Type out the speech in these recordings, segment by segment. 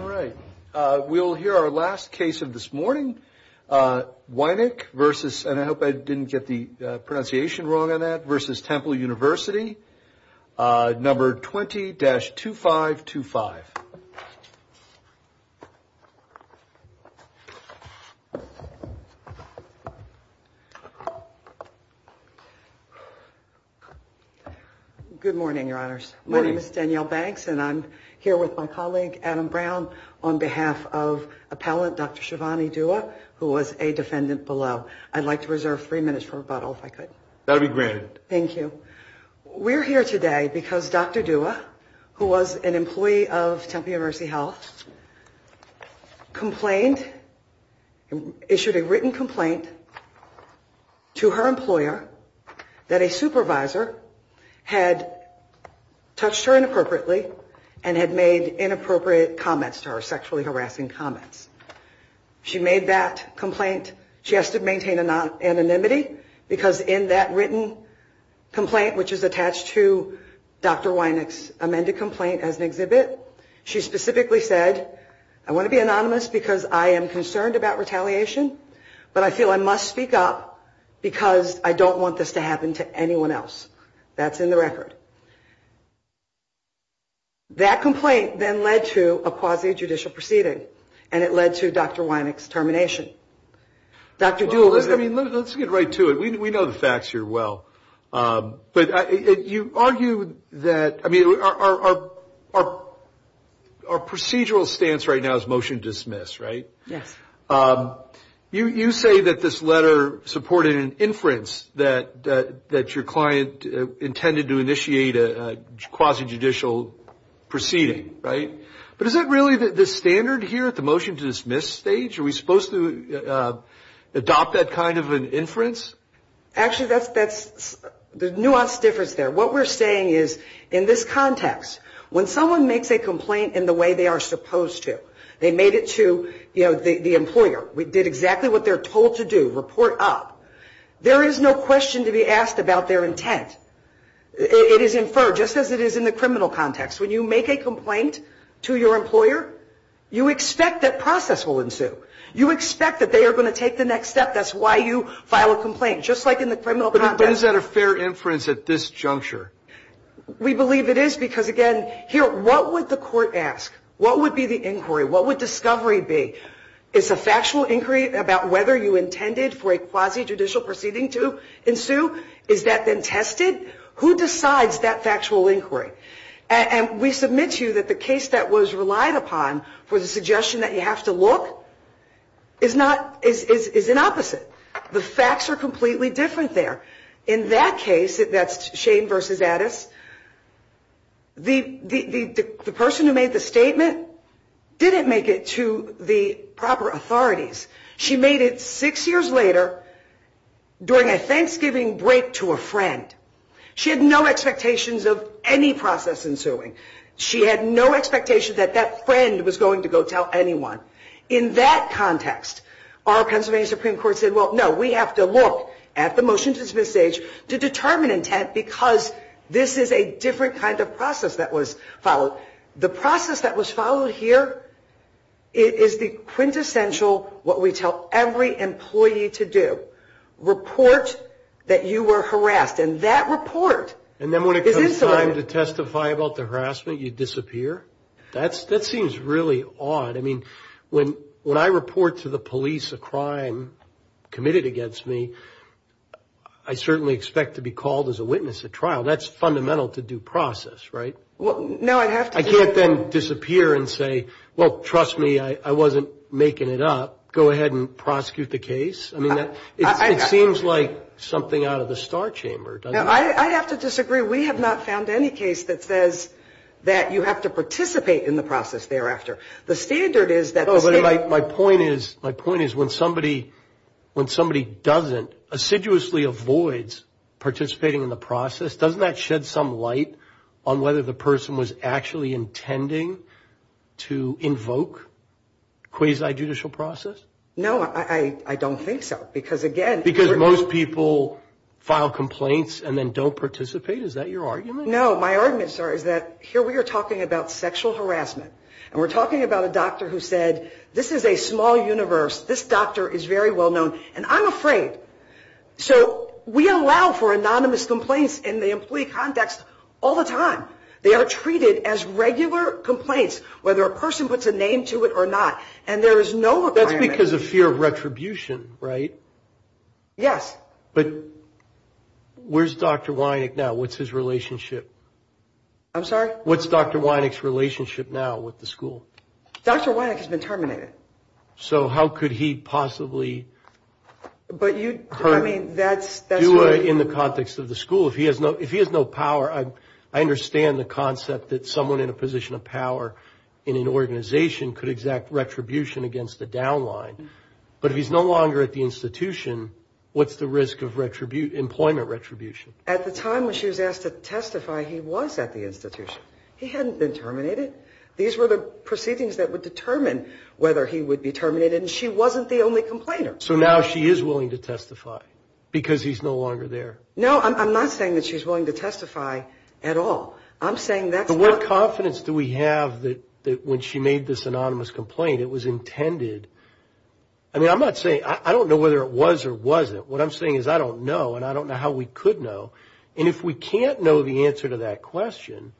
All right, we'll hear our last case of this morning. Wynik versus, and I hope I didn't get the pronunciation wrong on that, versus Temple University. Number 20-2525. Good morning, Your Honors. My name is Danielle Banks, and I'm here with my colleague, Adam Brown, on behalf of appellant Dr. Shivani Dua, who was a defendant below. I'd like to reserve three minutes for rebuttal, if I could. That'll be granted. Thank you. We're here today because Dr. Dua, who was an employee of Temple University Health, complained, issued a written complaint to her employer that a supervisor had touched her inappropriately and had made inappropriate comments to her, sexually harassing comments. She made that complaint. She has to maintain anonymity because in that written complaint, which is attached to Dr. Wynik's amended complaint as an exhibit, she specifically said, I want to be anonymous because I am concerned about retaliation, but I feel I must speak up because I don't want this to happen to anyone else. That's in the record. That complaint then led to a quasi-judicial proceeding, and it led to Dr. Wynik's termination. Dr. Dua, let's get right to it. We know the facts here well. But you argue that, I mean, our procedural stance right now is motion to dismiss, right? Yes. You say that this letter supported an inference that your client intended to initiate a quasi-judicial proceeding, right? But is that really the standard here at the motion to dismiss stage? Are we supposed to adopt that kind of an inference? Actually, that's the nuanced difference there. What we're saying is, in this context, when someone makes a complaint in the way they are supposed to, they made it to the employer. We did exactly what they're told to do, report up. There is no question to be asked about their intent. It is inferred, just as it is in the criminal context. When you make a complaint to your employer, you expect that process will ensue. You expect that they are going to take the next step. That's why you file a complaint, just like in the criminal context. But is that a fair inference at this juncture? We believe it is because, again, here, what would the court ask? What would be the inquiry? What would discovery be? Is a factual inquiry about whether you intended for a quasi-judicial proceeding to ensue? Is that then tested? Who decides that factual inquiry? And we submit to you that the case that was relied upon for the suggestion that you have to look is an opposite. The facts are completely different there. In that case, that's Shane versus Addis, the person who made the statement didn't make it to the proper authorities. She made it six years later during a Thanksgiving break to a friend. She had no expectations of any process ensuing. She had no expectation that that friend was going to go tell anyone. In that context, our Pennsylvania Supreme Court said, well, no, we have to look at the motion to dismiss sage to determine intent because this is a different kind of process that was followed. The process that was followed here is the quintessential what we tell every employee to do, report that you were harassed. And that report is insulated. And then when it comes time to testify about the harassment, you disappear? That seems really odd. I mean, when I report to the police a crime committed against me, I certainly expect to be called as a witness at trial. That's fundamental to due process, right? I can't then disappear and say, well, trust me, I wasn't making it up. Go ahead and prosecute the case. I mean, it seems like something out of the star chamber, doesn't it? I have to disagree. We have not found any case that says that you have to participate in the process thereafter. The standard is that the state. My point is when somebody doesn't assiduously avoid participating in the process, doesn't that shed some light on whether the person was actually intending to invoke quasi-judicial process? No, I don't think so. Because again. Because most people file complaints and then don't participate? Is that your argument? No, my argument, sir, is that here we are talking about sexual harassment. And we're talking about a doctor who said, this is a small universe. This doctor is very well known. And I'm afraid. So we allow for anonymous complaints in the employee context all the time. They are treated as regular complaints, whether a person puts a name to it or not. And there is no requirement. That's because of fear of retribution, right? Yes. But where's Dr. Wynick now? What's his relationship? I'm sorry? What's Dr. Wynick's relationship now with the school? Dr. Wynick has been terminated. So how could he possibly do it in the context of the school? If he has no power, I understand the concept that someone in a position of power in an organization could exact retribution against the downline. But if he's no longer at the institution, what's the risk of employment retribution? At the time when she was asked to testify, he was at the institution. He hadn't been terminated. These were the proceedings that would determine whether he would be terminated. And she wasn't the only complainer. So now she is willing to testify because he's no longer there. No, I'm not saying that she's willing to testify at all. I'm saying that's not. But what confidence do we have that when she made this anonymous complaint, it was intended? I mean, I'm not saying – I don't know whether it was or wasn't. What I'm saying is I don't know, and I don't know how we could know. And if we can't know the answer to that question,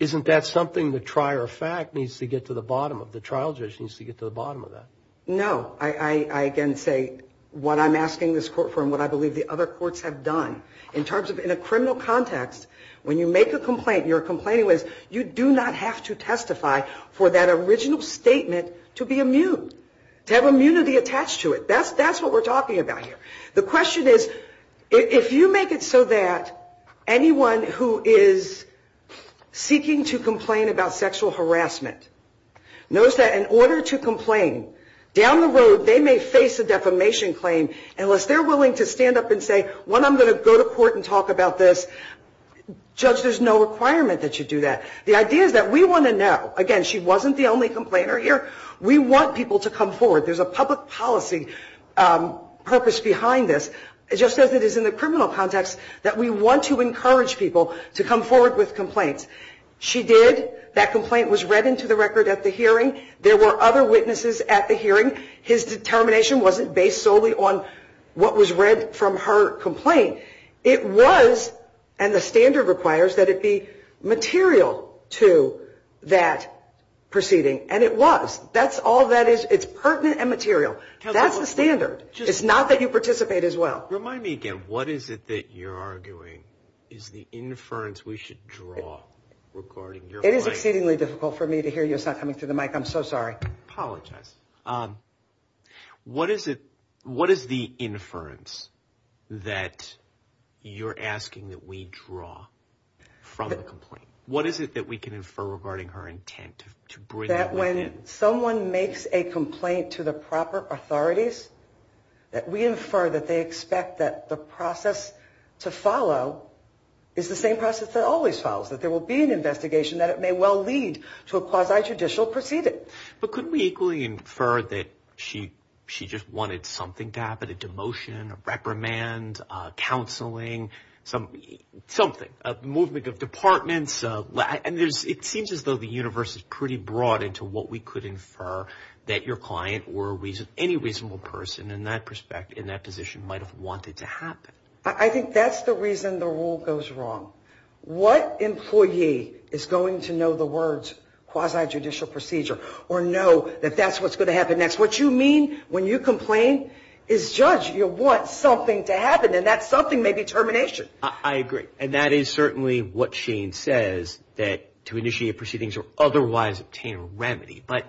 isn't that something the trier of fact needs to get to the bottom of? The trial judge needs to get to the bottom of that. No. I, again, say what I'm asking this court for and what I believe the other courts have done. In terms of in a criminal context, when you make a complaint and you're complaining, you do not have to testify for that original statement to be immune, to have immunity attached to it. That's what we're talking about here. The question is, if you make it so that anyone who is seeking to complain about sexual harassment knows that in order to complain, down the road they may face a defamation claim, unless they're willing to stand up and say, one, I'm going to go to court and talk about this. Judge, there's no requirement that you do that. The idea is that we want to know. Again, she wasn't the only complainer here. We want people to come forward. There's a public policy purpose behind this, just as it is in the criminal context, that we want to encourage people to come forward with complaints. She did. That complaint was read into the record at the hearing. There were other witnesses at the hearing. His determination wasn't based solely on what was read from her complaint. It was, and the standard requires that it be material to that proceeding, and it was. That's all that is. It's pertinent and material. That's the standard. It's not that you participate as well. Remind me again. What is it that you're arguing is the inference we should draw regarding your complaint? It is exceedingly difficult for me to hear you. It's not coming through the mic. I'm so sorry. I apologize. What is the inference that you're asking that we draw from the complaint? What is it that we can infer regarding her intent to bring that within? That when someone makes a complaint to the proper authorities, that we infer that they expect that the process to follow is the same process that always follows, that there will be an investigation, that it may well lead to a quasi-judicial proceeding. But couldn't we equally infer that she just wanted something to happen, a demotion, a reprimand, counseling, something, a movement of departments? It seems as though the universe is pretty broad into what we could infer that your client or any reasonable person in that position might have wanted to happen. I think that's the reason the rule goes wrong. What employee is going to know the words quasi-judicial procedure or know that that's what's going to happen next? What you mean when you complain is judge, you want something to happen, and that something may be termination. I agree. And that is certainly what Shane says, that to initiate proceedings or otherwise obtain a remedy. But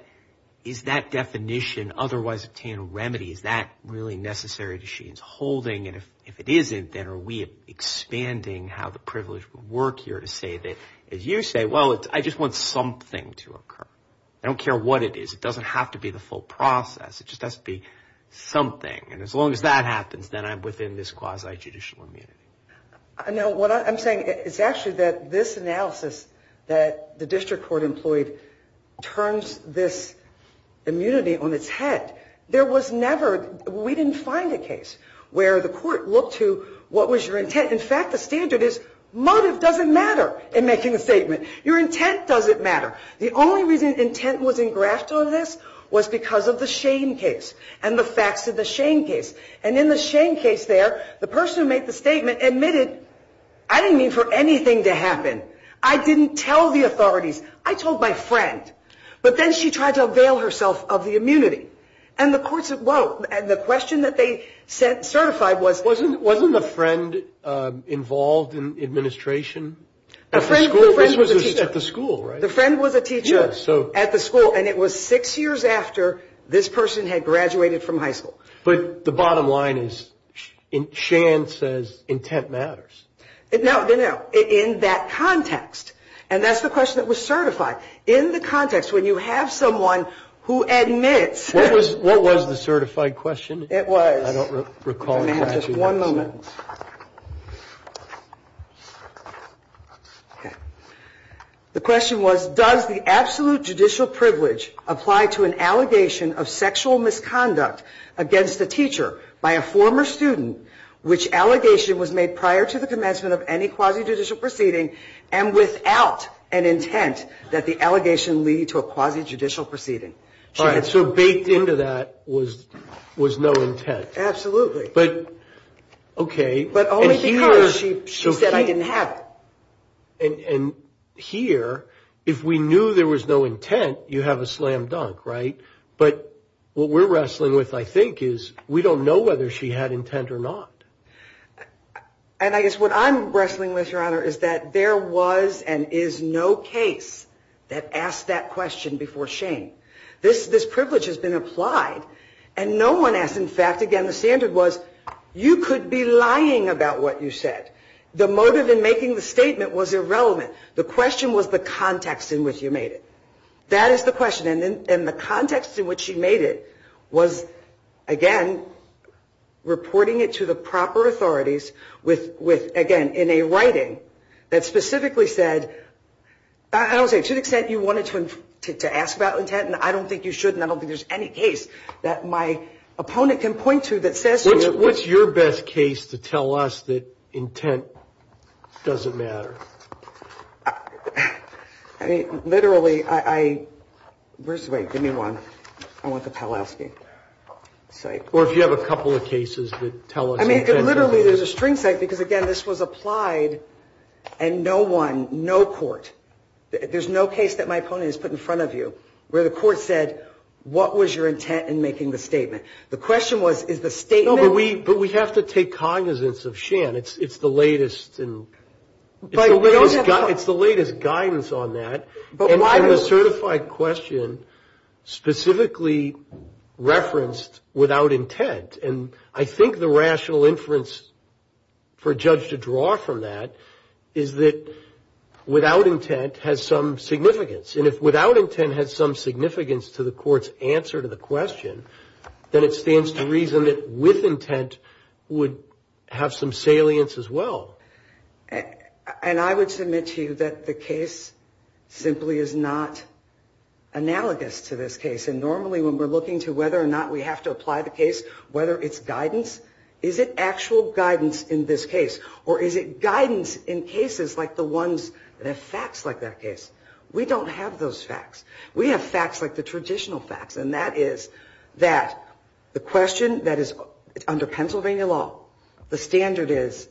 is that definition, otherwise obtain a remedy, is that really necessary to Shane's holding? And if it isn't, then are we expanding how the privilege would work here to say that, as you say, well, I just want something to occur. I don't care what it is. It doesn't have to be the full process. It just has to be something. And as long as that happens, then I'm within this quasi-judicial immunity. No, what I'm saying is actually that this analysis that the district court employed turns this immunity on its head. There was never – we didn't find a case where the court looked to what was your intent. In fact, the standard is motive doesn't matter in making a statement. Your intent doesn't matter. The only reason intent was engrafted on this was because of the Shane case and the facts of the Shane case. And in the Shane case there, the person who made the statement admitted, I didn't mean for anything to happen. I didn't tell the authorities. I told my friend. But then she tried to avail herself of the immunity. And the courts – whoa. And the question that they certified was – Wasn't the friend involved in administration? At the school, right? The friend was a teacher at the school. And it was six years after this person had graduated from high school. But the bottom line is Shane says intent matters. No, no, no. In that context. And that's the question that was certified. In the context, when you have someone who admits – What was the certified question? It was – I don't recall the question. One moment. Okay. The question was, does the absolute judicial privilege apply to an allegation of sexual misconduct against a teacher by a former student, which allegation was made prior to the commencement of any quasi-judicial proceeding, and without an intent that the allegation lead to a quasi-judicial proceeding? All right. So baked into that was no intent. Absolutely. Okay. But only because she said I didn't have it. And here, if we knew there was no intent, you have a slam dunk, right? But what we're wrestling with, I think, is we don't know whether she had intent or not. And I guess what I'm wrestling with, Your Honor, is that there was and is no case that asked that question before Shane. This privilege has been applied. And no one asked. In fact, again, the standard was you could be lying about what you said. The motive in making the statement was irrelevant. The question was the context in which you made it. That is the question. And the context in which she made it was, again, reporting it to the proper authorities with, again, that specifically said, I don't say to the extent you wanted to ask about intent, and I don't think you should, and I don't think there's any case that my opponent can point to that says so. What's your best case to tell us that intent doesn't matter? I mean, literally, I – where's the – wait, give me one. I want the Pawlowski site. Or if you have a couple of cases that tell us intent doesn't matter. Literally, there's a string site because, again, this was applied and no one, no court, there's no case that my opponent has put in front of you where the court said, what was your intent in making the statement? The question was, is the statement – No, but we have to take cognizance of Shane. It's the latest in – it's the latest guidance on that. And the certified question specifically referenced without intent. And I think the rational inference for a judge to draw from that is that without intent has some significance. And if without intent has some significance to the court's answer to the question, then it stands to reason that with intent would have some salience as well. And I would submit to you that the case simply is not analogous to this case. And normally when we're looking to whether or not we have to apply the case, whether it's guidance, is it actual guidance in this case? Or is it guidance in cases like the ones that have facts like that case? We don't have those facts. We have facts like the traditional facts. And that is that the question that is under Pennsylvania law, the standard is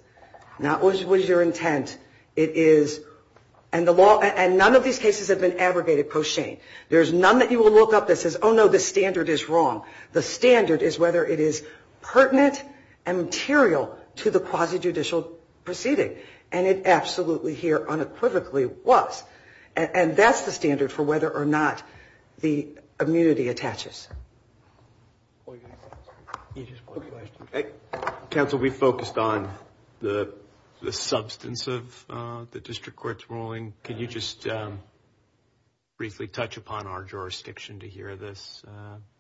not what is your intent. It is – and the law – and none of these cases have been abrogated post-Shane. There's none that you will look up that says, oh, no, the standard is wrong. The standard is whether it is pertinent and material to the quasi-judicial proceeding. And it absolutely here unequivocally was. And that's the standard for whether or not the immunity attaches. Counsel, we focused on the substance of the district court's ruling. Can you just briefly touch upon our jurisdiction to hear this?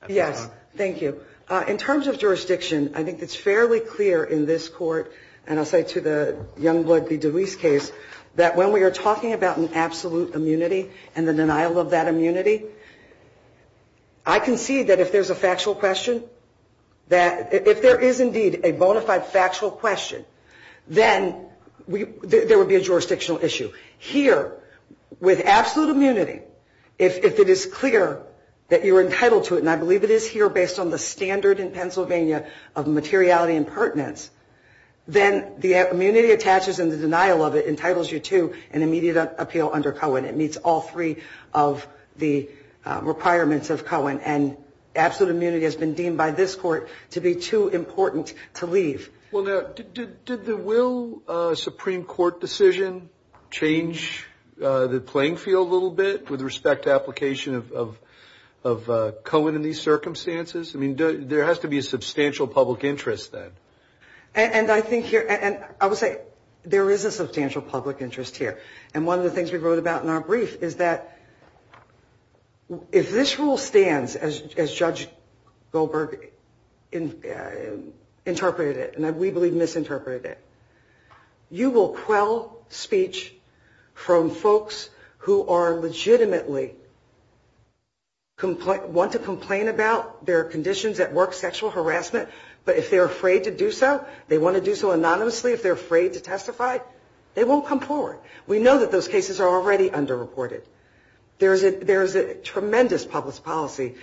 Yes. Thank you. In terms of jurisdiction, I think it's fairly clear in this court, and I'll say to the Youngblood v. DeWeese case, that when we are talking about an absolute immunity and the denial of that immunity, I concede that if there's a factual question, that if there is indeed a bona fide factual question, then there would be a jurisdictional issue. Here, with absolute immunity, if it is clear that you are entitled to it, and I believe it is here based on the standard in Pennsylvania of materiality and pertinence, then the immunity attaches and the denial of it entitles you to an immediate appeal under Cohen. It meets all three of the requirements of Cohen. And absolute immunity has been deemed by this court to be too important to leave. Well, now, did the Will Supreme Court decision change the playing field a little bit with respect to application of Cohen in these circumstances? I mean, there has to be a substantial public interest then. And I think here, and I would say there is a substantial public interest here. And one of the things we wrote about in our brief is that if this rule stands, as Judge Goldberg interpreted it, and we believe misinterpreted it, you will quell speech from folks who are legitimately want to complain about their conditions at work, sexual harassment, but if they're afraid to do so, they want to do so anonymously. If they're afraid to testify, they won't come forward. We know that those cases are already underreported. There is a tremendous public policy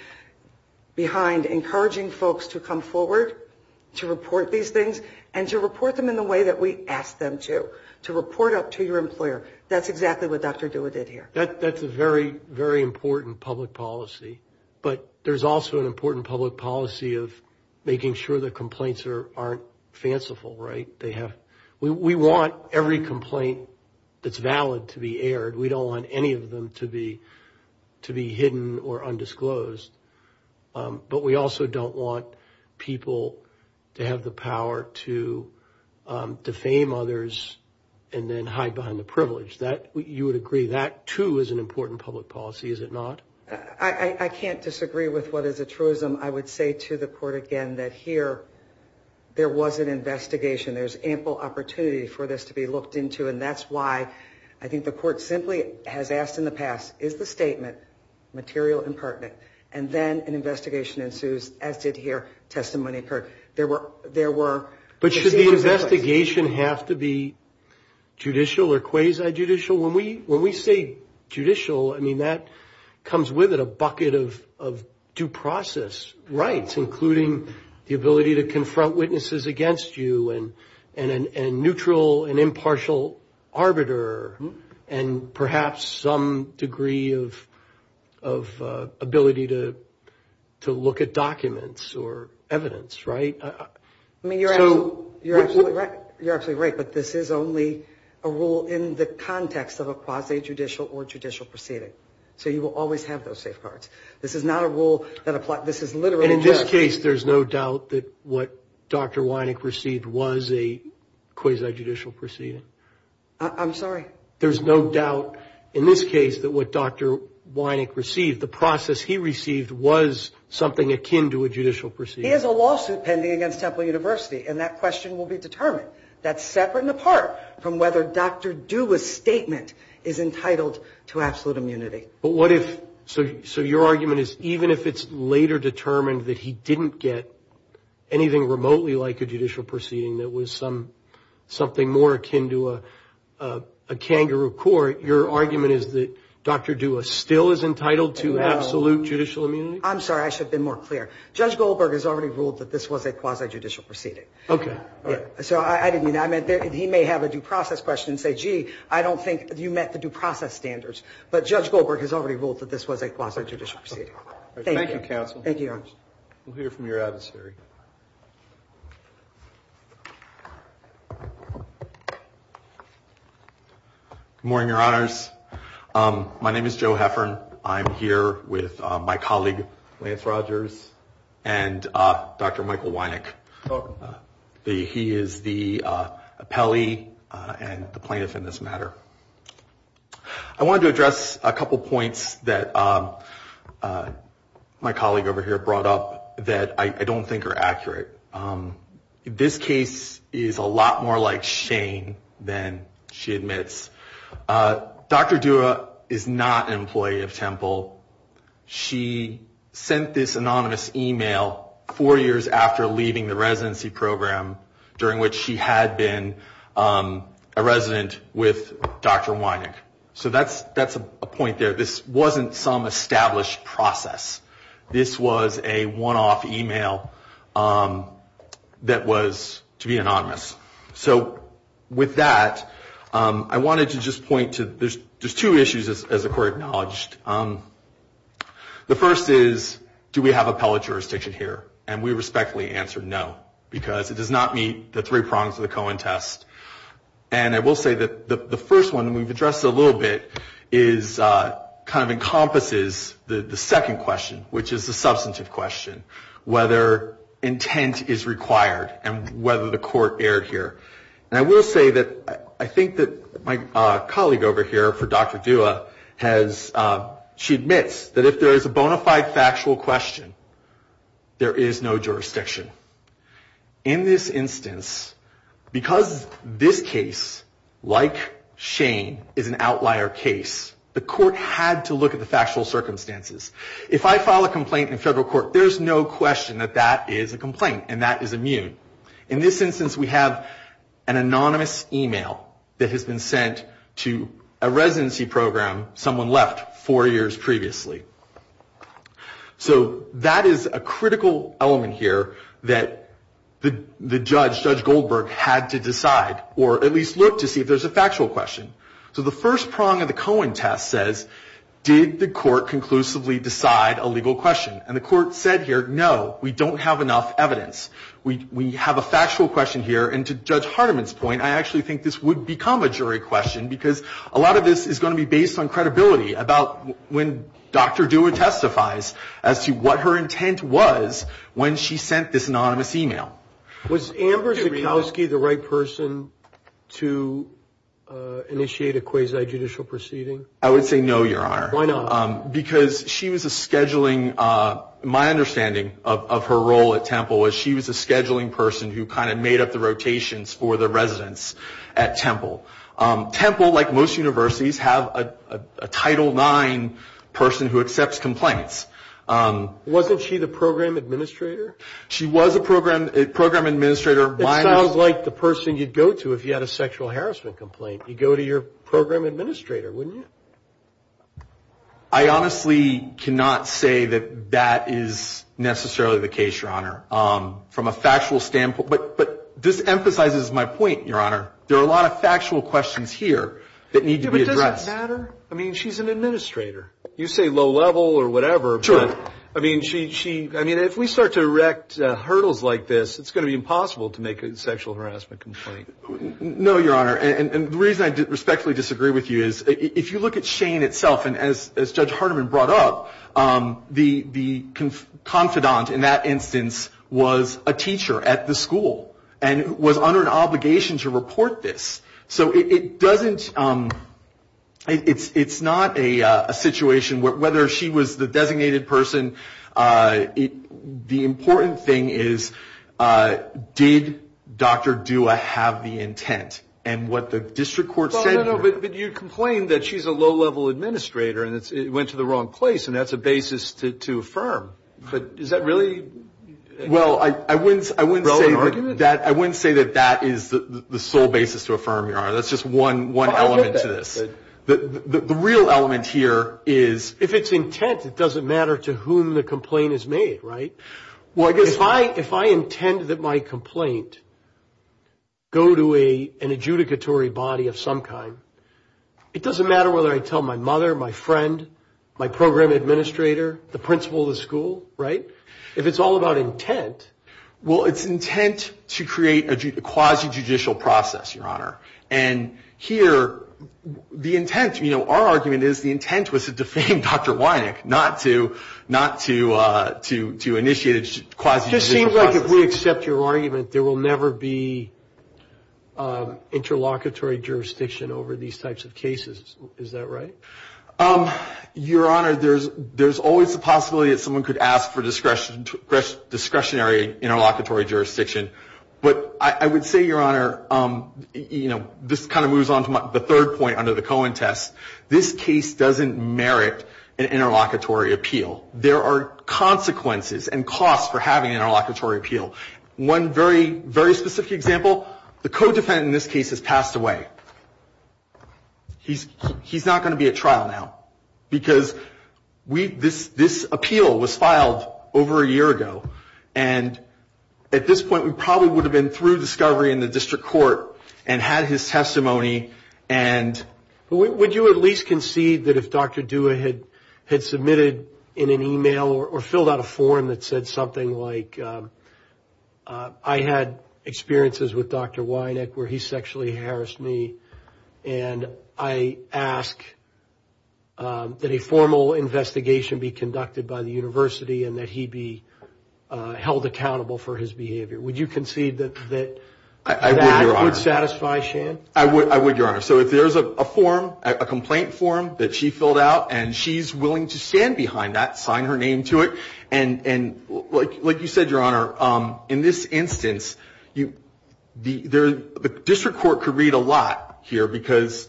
behind encouraging folks to come forward, to report these things, and to report them in the way that we ask them to, to report up to your employer. That's exactly what Dr. Dua did here. That's a very, very important public policy, but there's also an important public policy of making sure the complaints aren't fanciful, right? We want every complaint that's valid to be aired. We don't want any of them to be hidden or undisclosed, but we also don't want people to have the power to defame others and then hide behind the privilege. You would agree that, too, is an important public policy, is it not? I can't disagree with what is a truism. I would say to the court again that here, there was an investigation. There's ample opportunity for this to be looked into, and that's why I think the court simply has asked in the past, is the statement material and pertinent? And then an investigation ensues, as did here, testimony occurred. There were— But should the investigation have to be judicial or quasi-judicial? When we say judicial, I mean, that comes with it a bucket of due process rights, including the ability to confront witnesses against you and a neutral and impartial arbiter and perhaps some degree of ability to look at documents or evidence, right? I mean, you're absolutely right, but this is only a rule in the context of a quasi-judicial or judicial proceeding. So you will always have those safeguards. This is not a rule that applies—this is literally— And in this case, there's no doubt that what Dr. Wynick received was a quasi-judicial proceeding? I'm sorry? There's no doubt in this case that what Dr. Wynick received, the process he received was something akin to a judicial proceeding? He has a lawsuit pending against Temple University, and that question will be determined. That's separate and apart from whether Dr. Dua's statement is entitled to absolute immunity. But what if—so your argument is even if it's later determined that he didn't get anything remotely like a judicial proceeding that was something more akin to a kangaroo court, your argument is that Dr. Dua still is entitled to absolute judicial immunity? I'm sorry, I should have been more clear. Judge Goldberg has already ruled that this was a quasi-judicial proceeding. Okay. So I didn't mean that. He may have a due process question and say, gee, I don't think you met the due process standards. But Judge Goldberg has already ruled that this was a quasi-judicial proceeding. Thank you, counsel. Thank you, Your Honor. We'll hear from your adversary. Good morning, Your Honors. My name is Joe Heffern. I'm here with my colleague Lance Rogers and Dr. Michael Wynick. He is the appellee and the plaintiff in this matter. I wanted to address a couple points that my colleague over here brought up that I don't think are accurate. This case is a lot more like Shane than she admits. Dr. Dua is not an employee of Temple. She sent this anonymous e-mail four years after leaving the residency program, during which she had been a resident with Dr. Wynick. So that's a point there. This wasn't some established process. This was a one-off e-mail that was to be anonymous. So with that, I wanted to just point to there's two issues, as the Court acknowledged. The first is, do we have appellate jurisdiction here? And we respectfully answer no, because it does not meet the three prongs of the Cohen test. And I will say that the first one, and we've addressed it a little bit, kind of encompasses the second question, which is the substantive question, whether intent is required and whether the Court erred here. And I will say that I think that my colleague over here for Dr. Dua, she admits that if there is a bona fide factual question, there is no jurisdiction. In this instance, because this case, like Shane, is an outlier case, the Court had to look at the factual circumstances. If I file a complaint in federal court, there's no question that that is a complaint and that is immune. In this instance, we have an anonymous e-mail that has been sent to a residency program someone left four years previously. So that is a critical element here that the judge, Judge Goldberg, had to decide, or at least look to see if there's a factual question. So the first prong of the Cohen test says, did the Court conclusively decide a legal question? And the Court said here, no, we don't have enough evidence. We have a factual question here. And to Judge Hardiman's point, I actually think this would become a jury question because a lot of this is going to be based on credibility about when Dr. Dua testifies as to what her intent was when she sent this anonymous e-mail. Was Amber Zukowski the right person to initiate a quasi-judicial proceeding? I would say no, Your Honor. Why not? Because she was a scheduling, my understanding of her role at Temple was she was a scheduling person who kind of made up the rotations for the residents at Temple. Temple, like most universities, have a Title IX person who accepts complaints. Wasn't she the program administrator? She was a program administrator. It sounds like the person you'd go to if you had a sexual harassment complaint. You'd go to your program administrator, wouldn't you? I honestly cannot say that that is necessarily the case, Your Honor, from a factual standpoint. But this emphasizes my point, Your Honor. There are a lot of factual questions here that need to be addressed. But does it matter? I mean, she's an administrator. You say low level or whatever. Sure. I mean, if we start to erect hurdles like this, it's going to be impossible to make a sexual harassment complaint. No, Your Honor. And the reason I respectfully disagree with you is if you look at Shane itself, and as Judge Hardiman brought up, the confidant in that instance was a teacher at the school and was under an obligation to report this. So it doesn't, it's not a situation, whether she was the designated person, the important thing is did Dr. Dua have the intent? And what the district court said. No, no, no. But you complained that she's a low level administrator and it went to the wrong place, and that's a basis to affirm. But is that really a relevant argument? Well, I wouldn't say that that is the sole basis to affirm, Your Honor. That's just one element to this. The real element here is. If it's intent, it doesn't matter to whom the complaint is made, right? If I intend that my complaint go to an adjudicatory body of some kind, it doesn't matter whether I tell my mother, my friend, my program administrator, the principal of the school, right? If it's all about intent. Well, it's intent to create a quasi-judicial process, Your Honor. And here, the intent, you know, our argument is the intent was to defame Dr. Wynick, not to initiate a quasi-judicial process. It just seems like if we accept your argument, there will never be interlocutory jurisdiction over these types of cases. Is that right? Your Honor, there's always the possibility that someone could ask for discretionary interlocutory jurisdiction. But I would say, Your Honor, you know, this kind of moves on to the third point under the Cohen test. This case doesn't merit an interlocutory appeal. There are consequences and costs for having an interlocutory appeal. One very, very specific example, the co-defendant in this case has passed away. He's not going to be at trial now. Because this appeal was filed over a year ago. And at this point, we probably would have been through discovery in the district court and had his testimony and... Would you at least concede that if Dr. Dua had submitted in an email or filled out a form that said something like, I had experiences with Dr. Weineck where he sexually harassed me and I ask that a formal investigation be conducted by the university and that he be held accountable for his behavior. Would you concede that that would satisfy Shan? I would, Your Honor. So if there's a form, a complaint form that she filled out and she's willing to stand behind that, sign her name to it, and like you said, Your Honor, in this instance, the district court could read a lot here because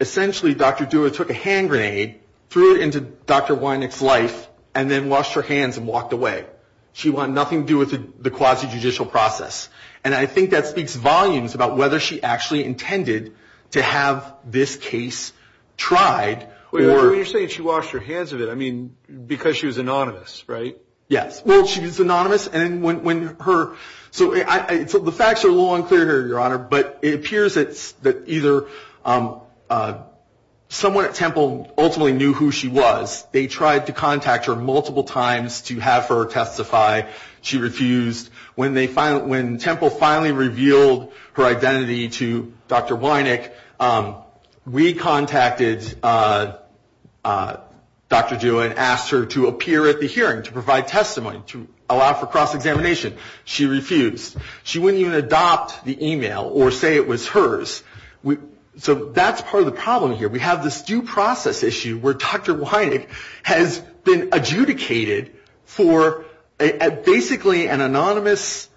essentially Dr. Dua took a hand grenade, threw it into Dr. Weineck's life, and then washed her hands and walked away. She wanted nothing to do with the quasi-judicial process. And I think that speaks volumes about whether she actually intended to have this case tried or... Yes. Well, she's anonymous and when her... So the facts are a little unclear here, Your Honor, but it appears that either someone at Temple ultimately knew who she was. They tried to contact her multiple times to have her testify. She refused. When Temple finally revealed her identity to Dr. Weineck, we contacted Dr. Dua and asked her to appear at the hearing, to provide testimony, to allow for cross-examination. She refused. She wouldn't even adopt the email or say it was hers. So that's part of the problem here. We have this due process issue where Dr. Weineck has been adjudicated for basically an anonymous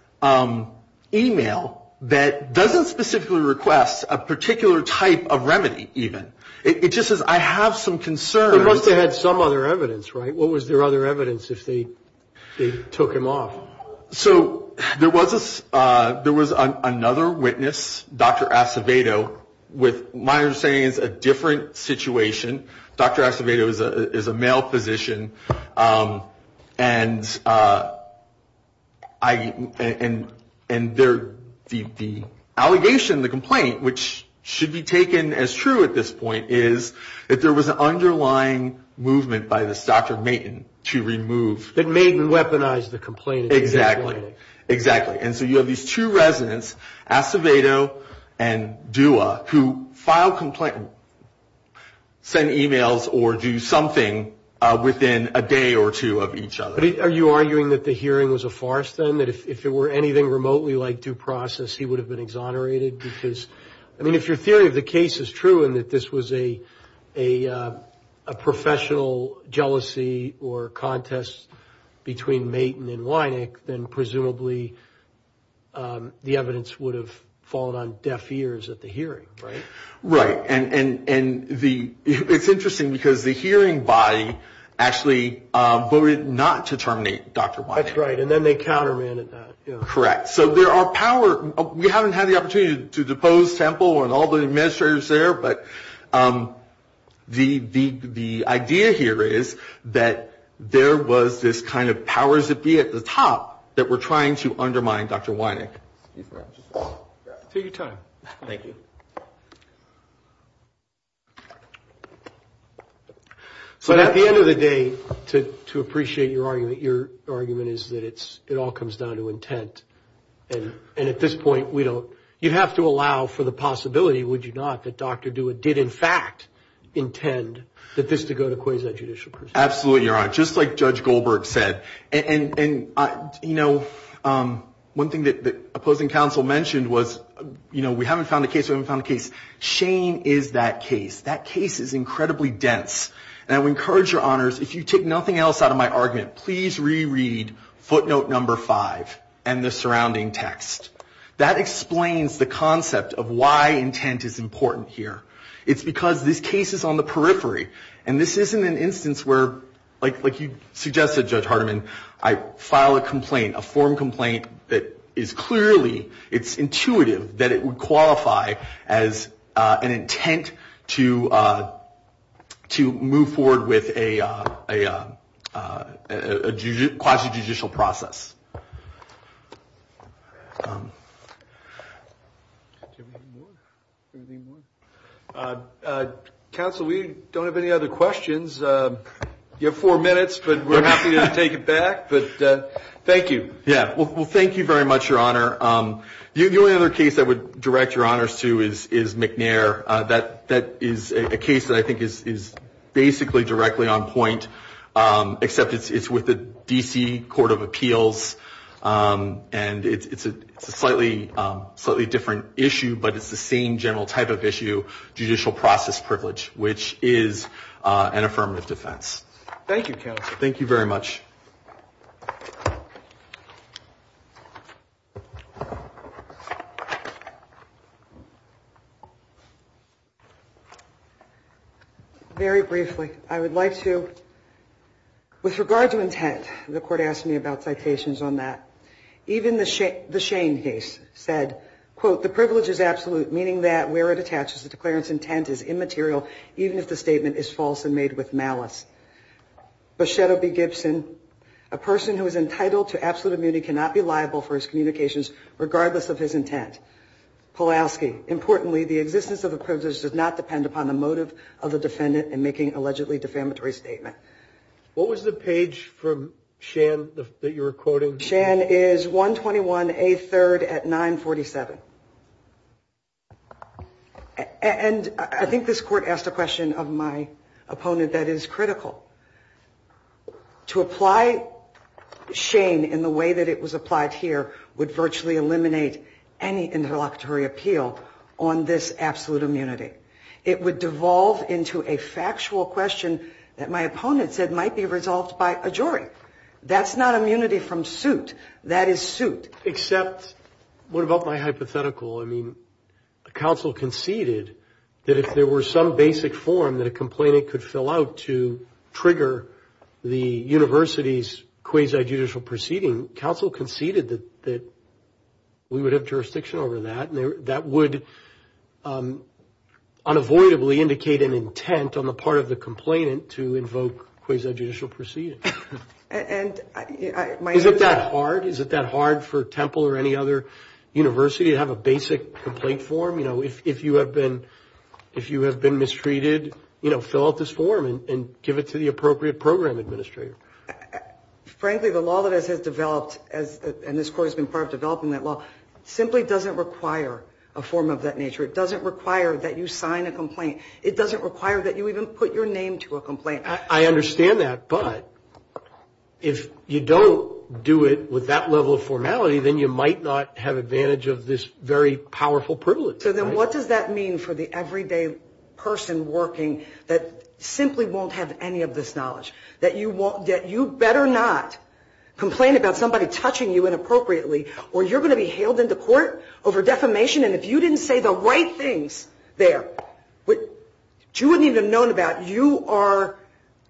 email that doesn't specifically request a particular type of remedy even. It just says, I have some concerns... They must have had some other evidence, right? What was their other evidence if they took him off? So there was another witness, Dr. Acevedo, with my understanding it's a different situation. Dr. Acevedo is a male physician and the allegation, the complaint, which should be taken as true at this point, is that there was an underlying movement by this Dr. Maitin to remove... That Maitin weaponized the complaint. Exactly. And so you have these two residents, Acevedo and Dua, who file complaints, send emails, or do something within a day or two of each other. Are you arguing that the hearing was a farce then? That if it were anything remotely like due process, he would have been exonerated? Because, I mean, if your theory of the case is true and that this was a professional jealousy or contest between Maitin and Weineck, then presumably the evidence would have fallen on deaf ears at the hearing, right? Right. And it's interesting because the hearing body actually voted not to terminate Dr. Maitin. That's right. And then they countermanded that. Correct. So there are power... We haven't had the opportunity to depose Temple and all the administrators there, but the idea here is that there was this kind of power zippy at the top that were trying to undermine Dr. Weineck. Take your time. Thank you. So at the end of the day, to appreciate your argument, your argument is that it all comes down to intent. And at this point, you have to allow for the possibility, would you not, that Dr. DeWitt did, in fact, intend that this to go to quasi-judicial proceedings? Absolutely. You're right. Just like Judge Goldberg said. And, you know, one thing that opposing counsel mentioned was, you know, we haven't found a case, we haven't found a case. Shane is that case. That case is incredibly dense. And I would encourage your honors, if you take nothing else out of my argument, please reread footnote number five and the surrounding text. That explains the concept of why intent is important here. It's because this case is on the periphery. And this isn't an instance where, like you suggested, Judge Hardiman, I file a complaint, a form complaint that is clearly, it's intuitive, that it would qualify as an intent to move forward with a quasi-judicial process. Counsel, we don't have any other questions. You have four minutes, but we're happy to take it back. But thank you. Yeah. Well, thank you very much, Your Honor. The only other case I would direct your honors to is McNair. That is a case that I think is basically directly on point, except it's with the D.C. Court of Appeals. And it's a slightly different issue, but it's the same general type of issue, judicial process privilege, which is an affirmative defense. Thank you, Counsel. Thank you very much. Very briefly, I would like to, with regard to intent, the court asked me about citations on that. Even the Shane case said, quote, the privilege is absolute, meaning that where it attaches the declarant's intent is immaterial, even if the statement is false and made with malice. But Shadow B. Gibson, a person who is entitled to absolute immunity, cannot be liable for his communications regardless of his intent. Polaski, importantly, the existence of the privilege does not depend upon the motive of the defendant in making an allegedly defamatory statement. What was the page from Shan that you were quoting? Shan is 121A3rd at 947. And I think this court asked a question of my opponent that is critical. To apply Shane in the way that it was applied here would virtually eliminate any interlocutory appeal on this absolute immunity. It would devolve into a factual question that my opponent said might be resolved by a jury. That's not immunity from suit. That is suit. Except, what about my hypothetical? I mean, counsel conceded that if there were some basic form that a complainant could fill out to trigger the university's quasi-judicial proceeding, counsel conceded that we would have jurisdiction over that, and that would unavoidably indicate an intent on the part of the complainant to invoke quasi-judicial proceedings. Is it that hard? Is it that hard for Temple or any other university to have a basic complaint form? You know, if you have been mistreated, fill out this form and give it to the appropriate program administrator. Frankly, the law that has developed, and this court has been part of developing that law, simply doesn't require a form of that nature. It doesn't require that you sign a complaint. It doesn't require that you even put your name to a complaint. I understand that, but if you don't do it with that level of formality, then you might not have advantage of this very powerful privilege. So then what does that mean for the everyday person working that simply won't have any of this knowledge? That you better not complain about somebody touching you inappropriately, or you're going to be hailed into court over defamation, and if you didn't say the right things there, which you wouldn't even have known about, you are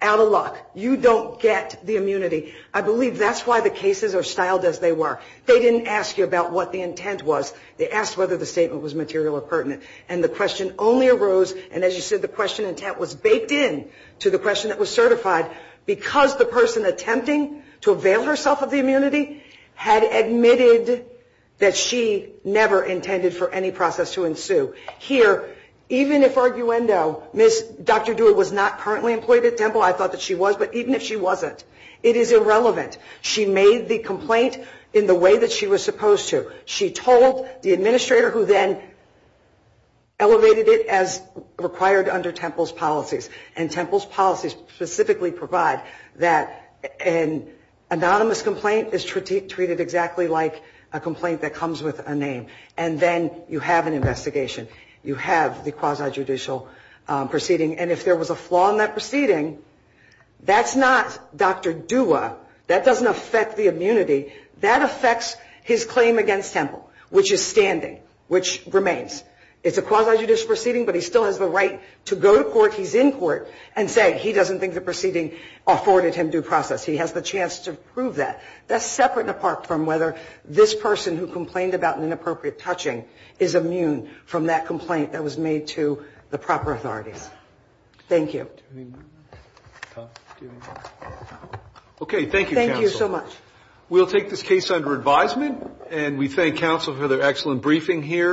out of luck. You don't get the immunity. I believe that's why the cases are styled as they were. They didn't ask you about what the intent was. They asked whether the statement was material or pertinent, and the question only arose, and as you said, the question intent was baked in to the question that was certified, because the person attempting to avail herself of the immunity had admitted that she never intended for any process to ensue. Here, even if arguendo, Dr. Dewitt was not currently employed at Temple, I thought that she was, but even if she wasn't, it is irrelevant. She made the complaint in the way that she was supposed to. She told the administrator, who then elevated it as required under Temple's policies, and Temple's policies specifically provide that an anonymous complaint is treated exactly like a complaint that comes with a name, and then you have an investigation. You have the quasi-judicial proceeding, and if there was a flaw in that proceeding, that's not Dr. Dewitt. That doesn't affect the immunity. That affects his claim against Temple, which is standing, which remains. It's a quasi-judicial proceeding, but he still has the right to go to court, he's in court, and say he doesn't think the proceeding afforded him due process. He has the chance to prove that. That's separate and apart from whether this person who complained about an inappropriate touching is immune from that complaint that was made to the proper authorities. Thank you. Do we have any more? Okay. Thank you, counsel. Thank you so much. We'll take this case under advisement, and we thank counsel for their excellent briefing here.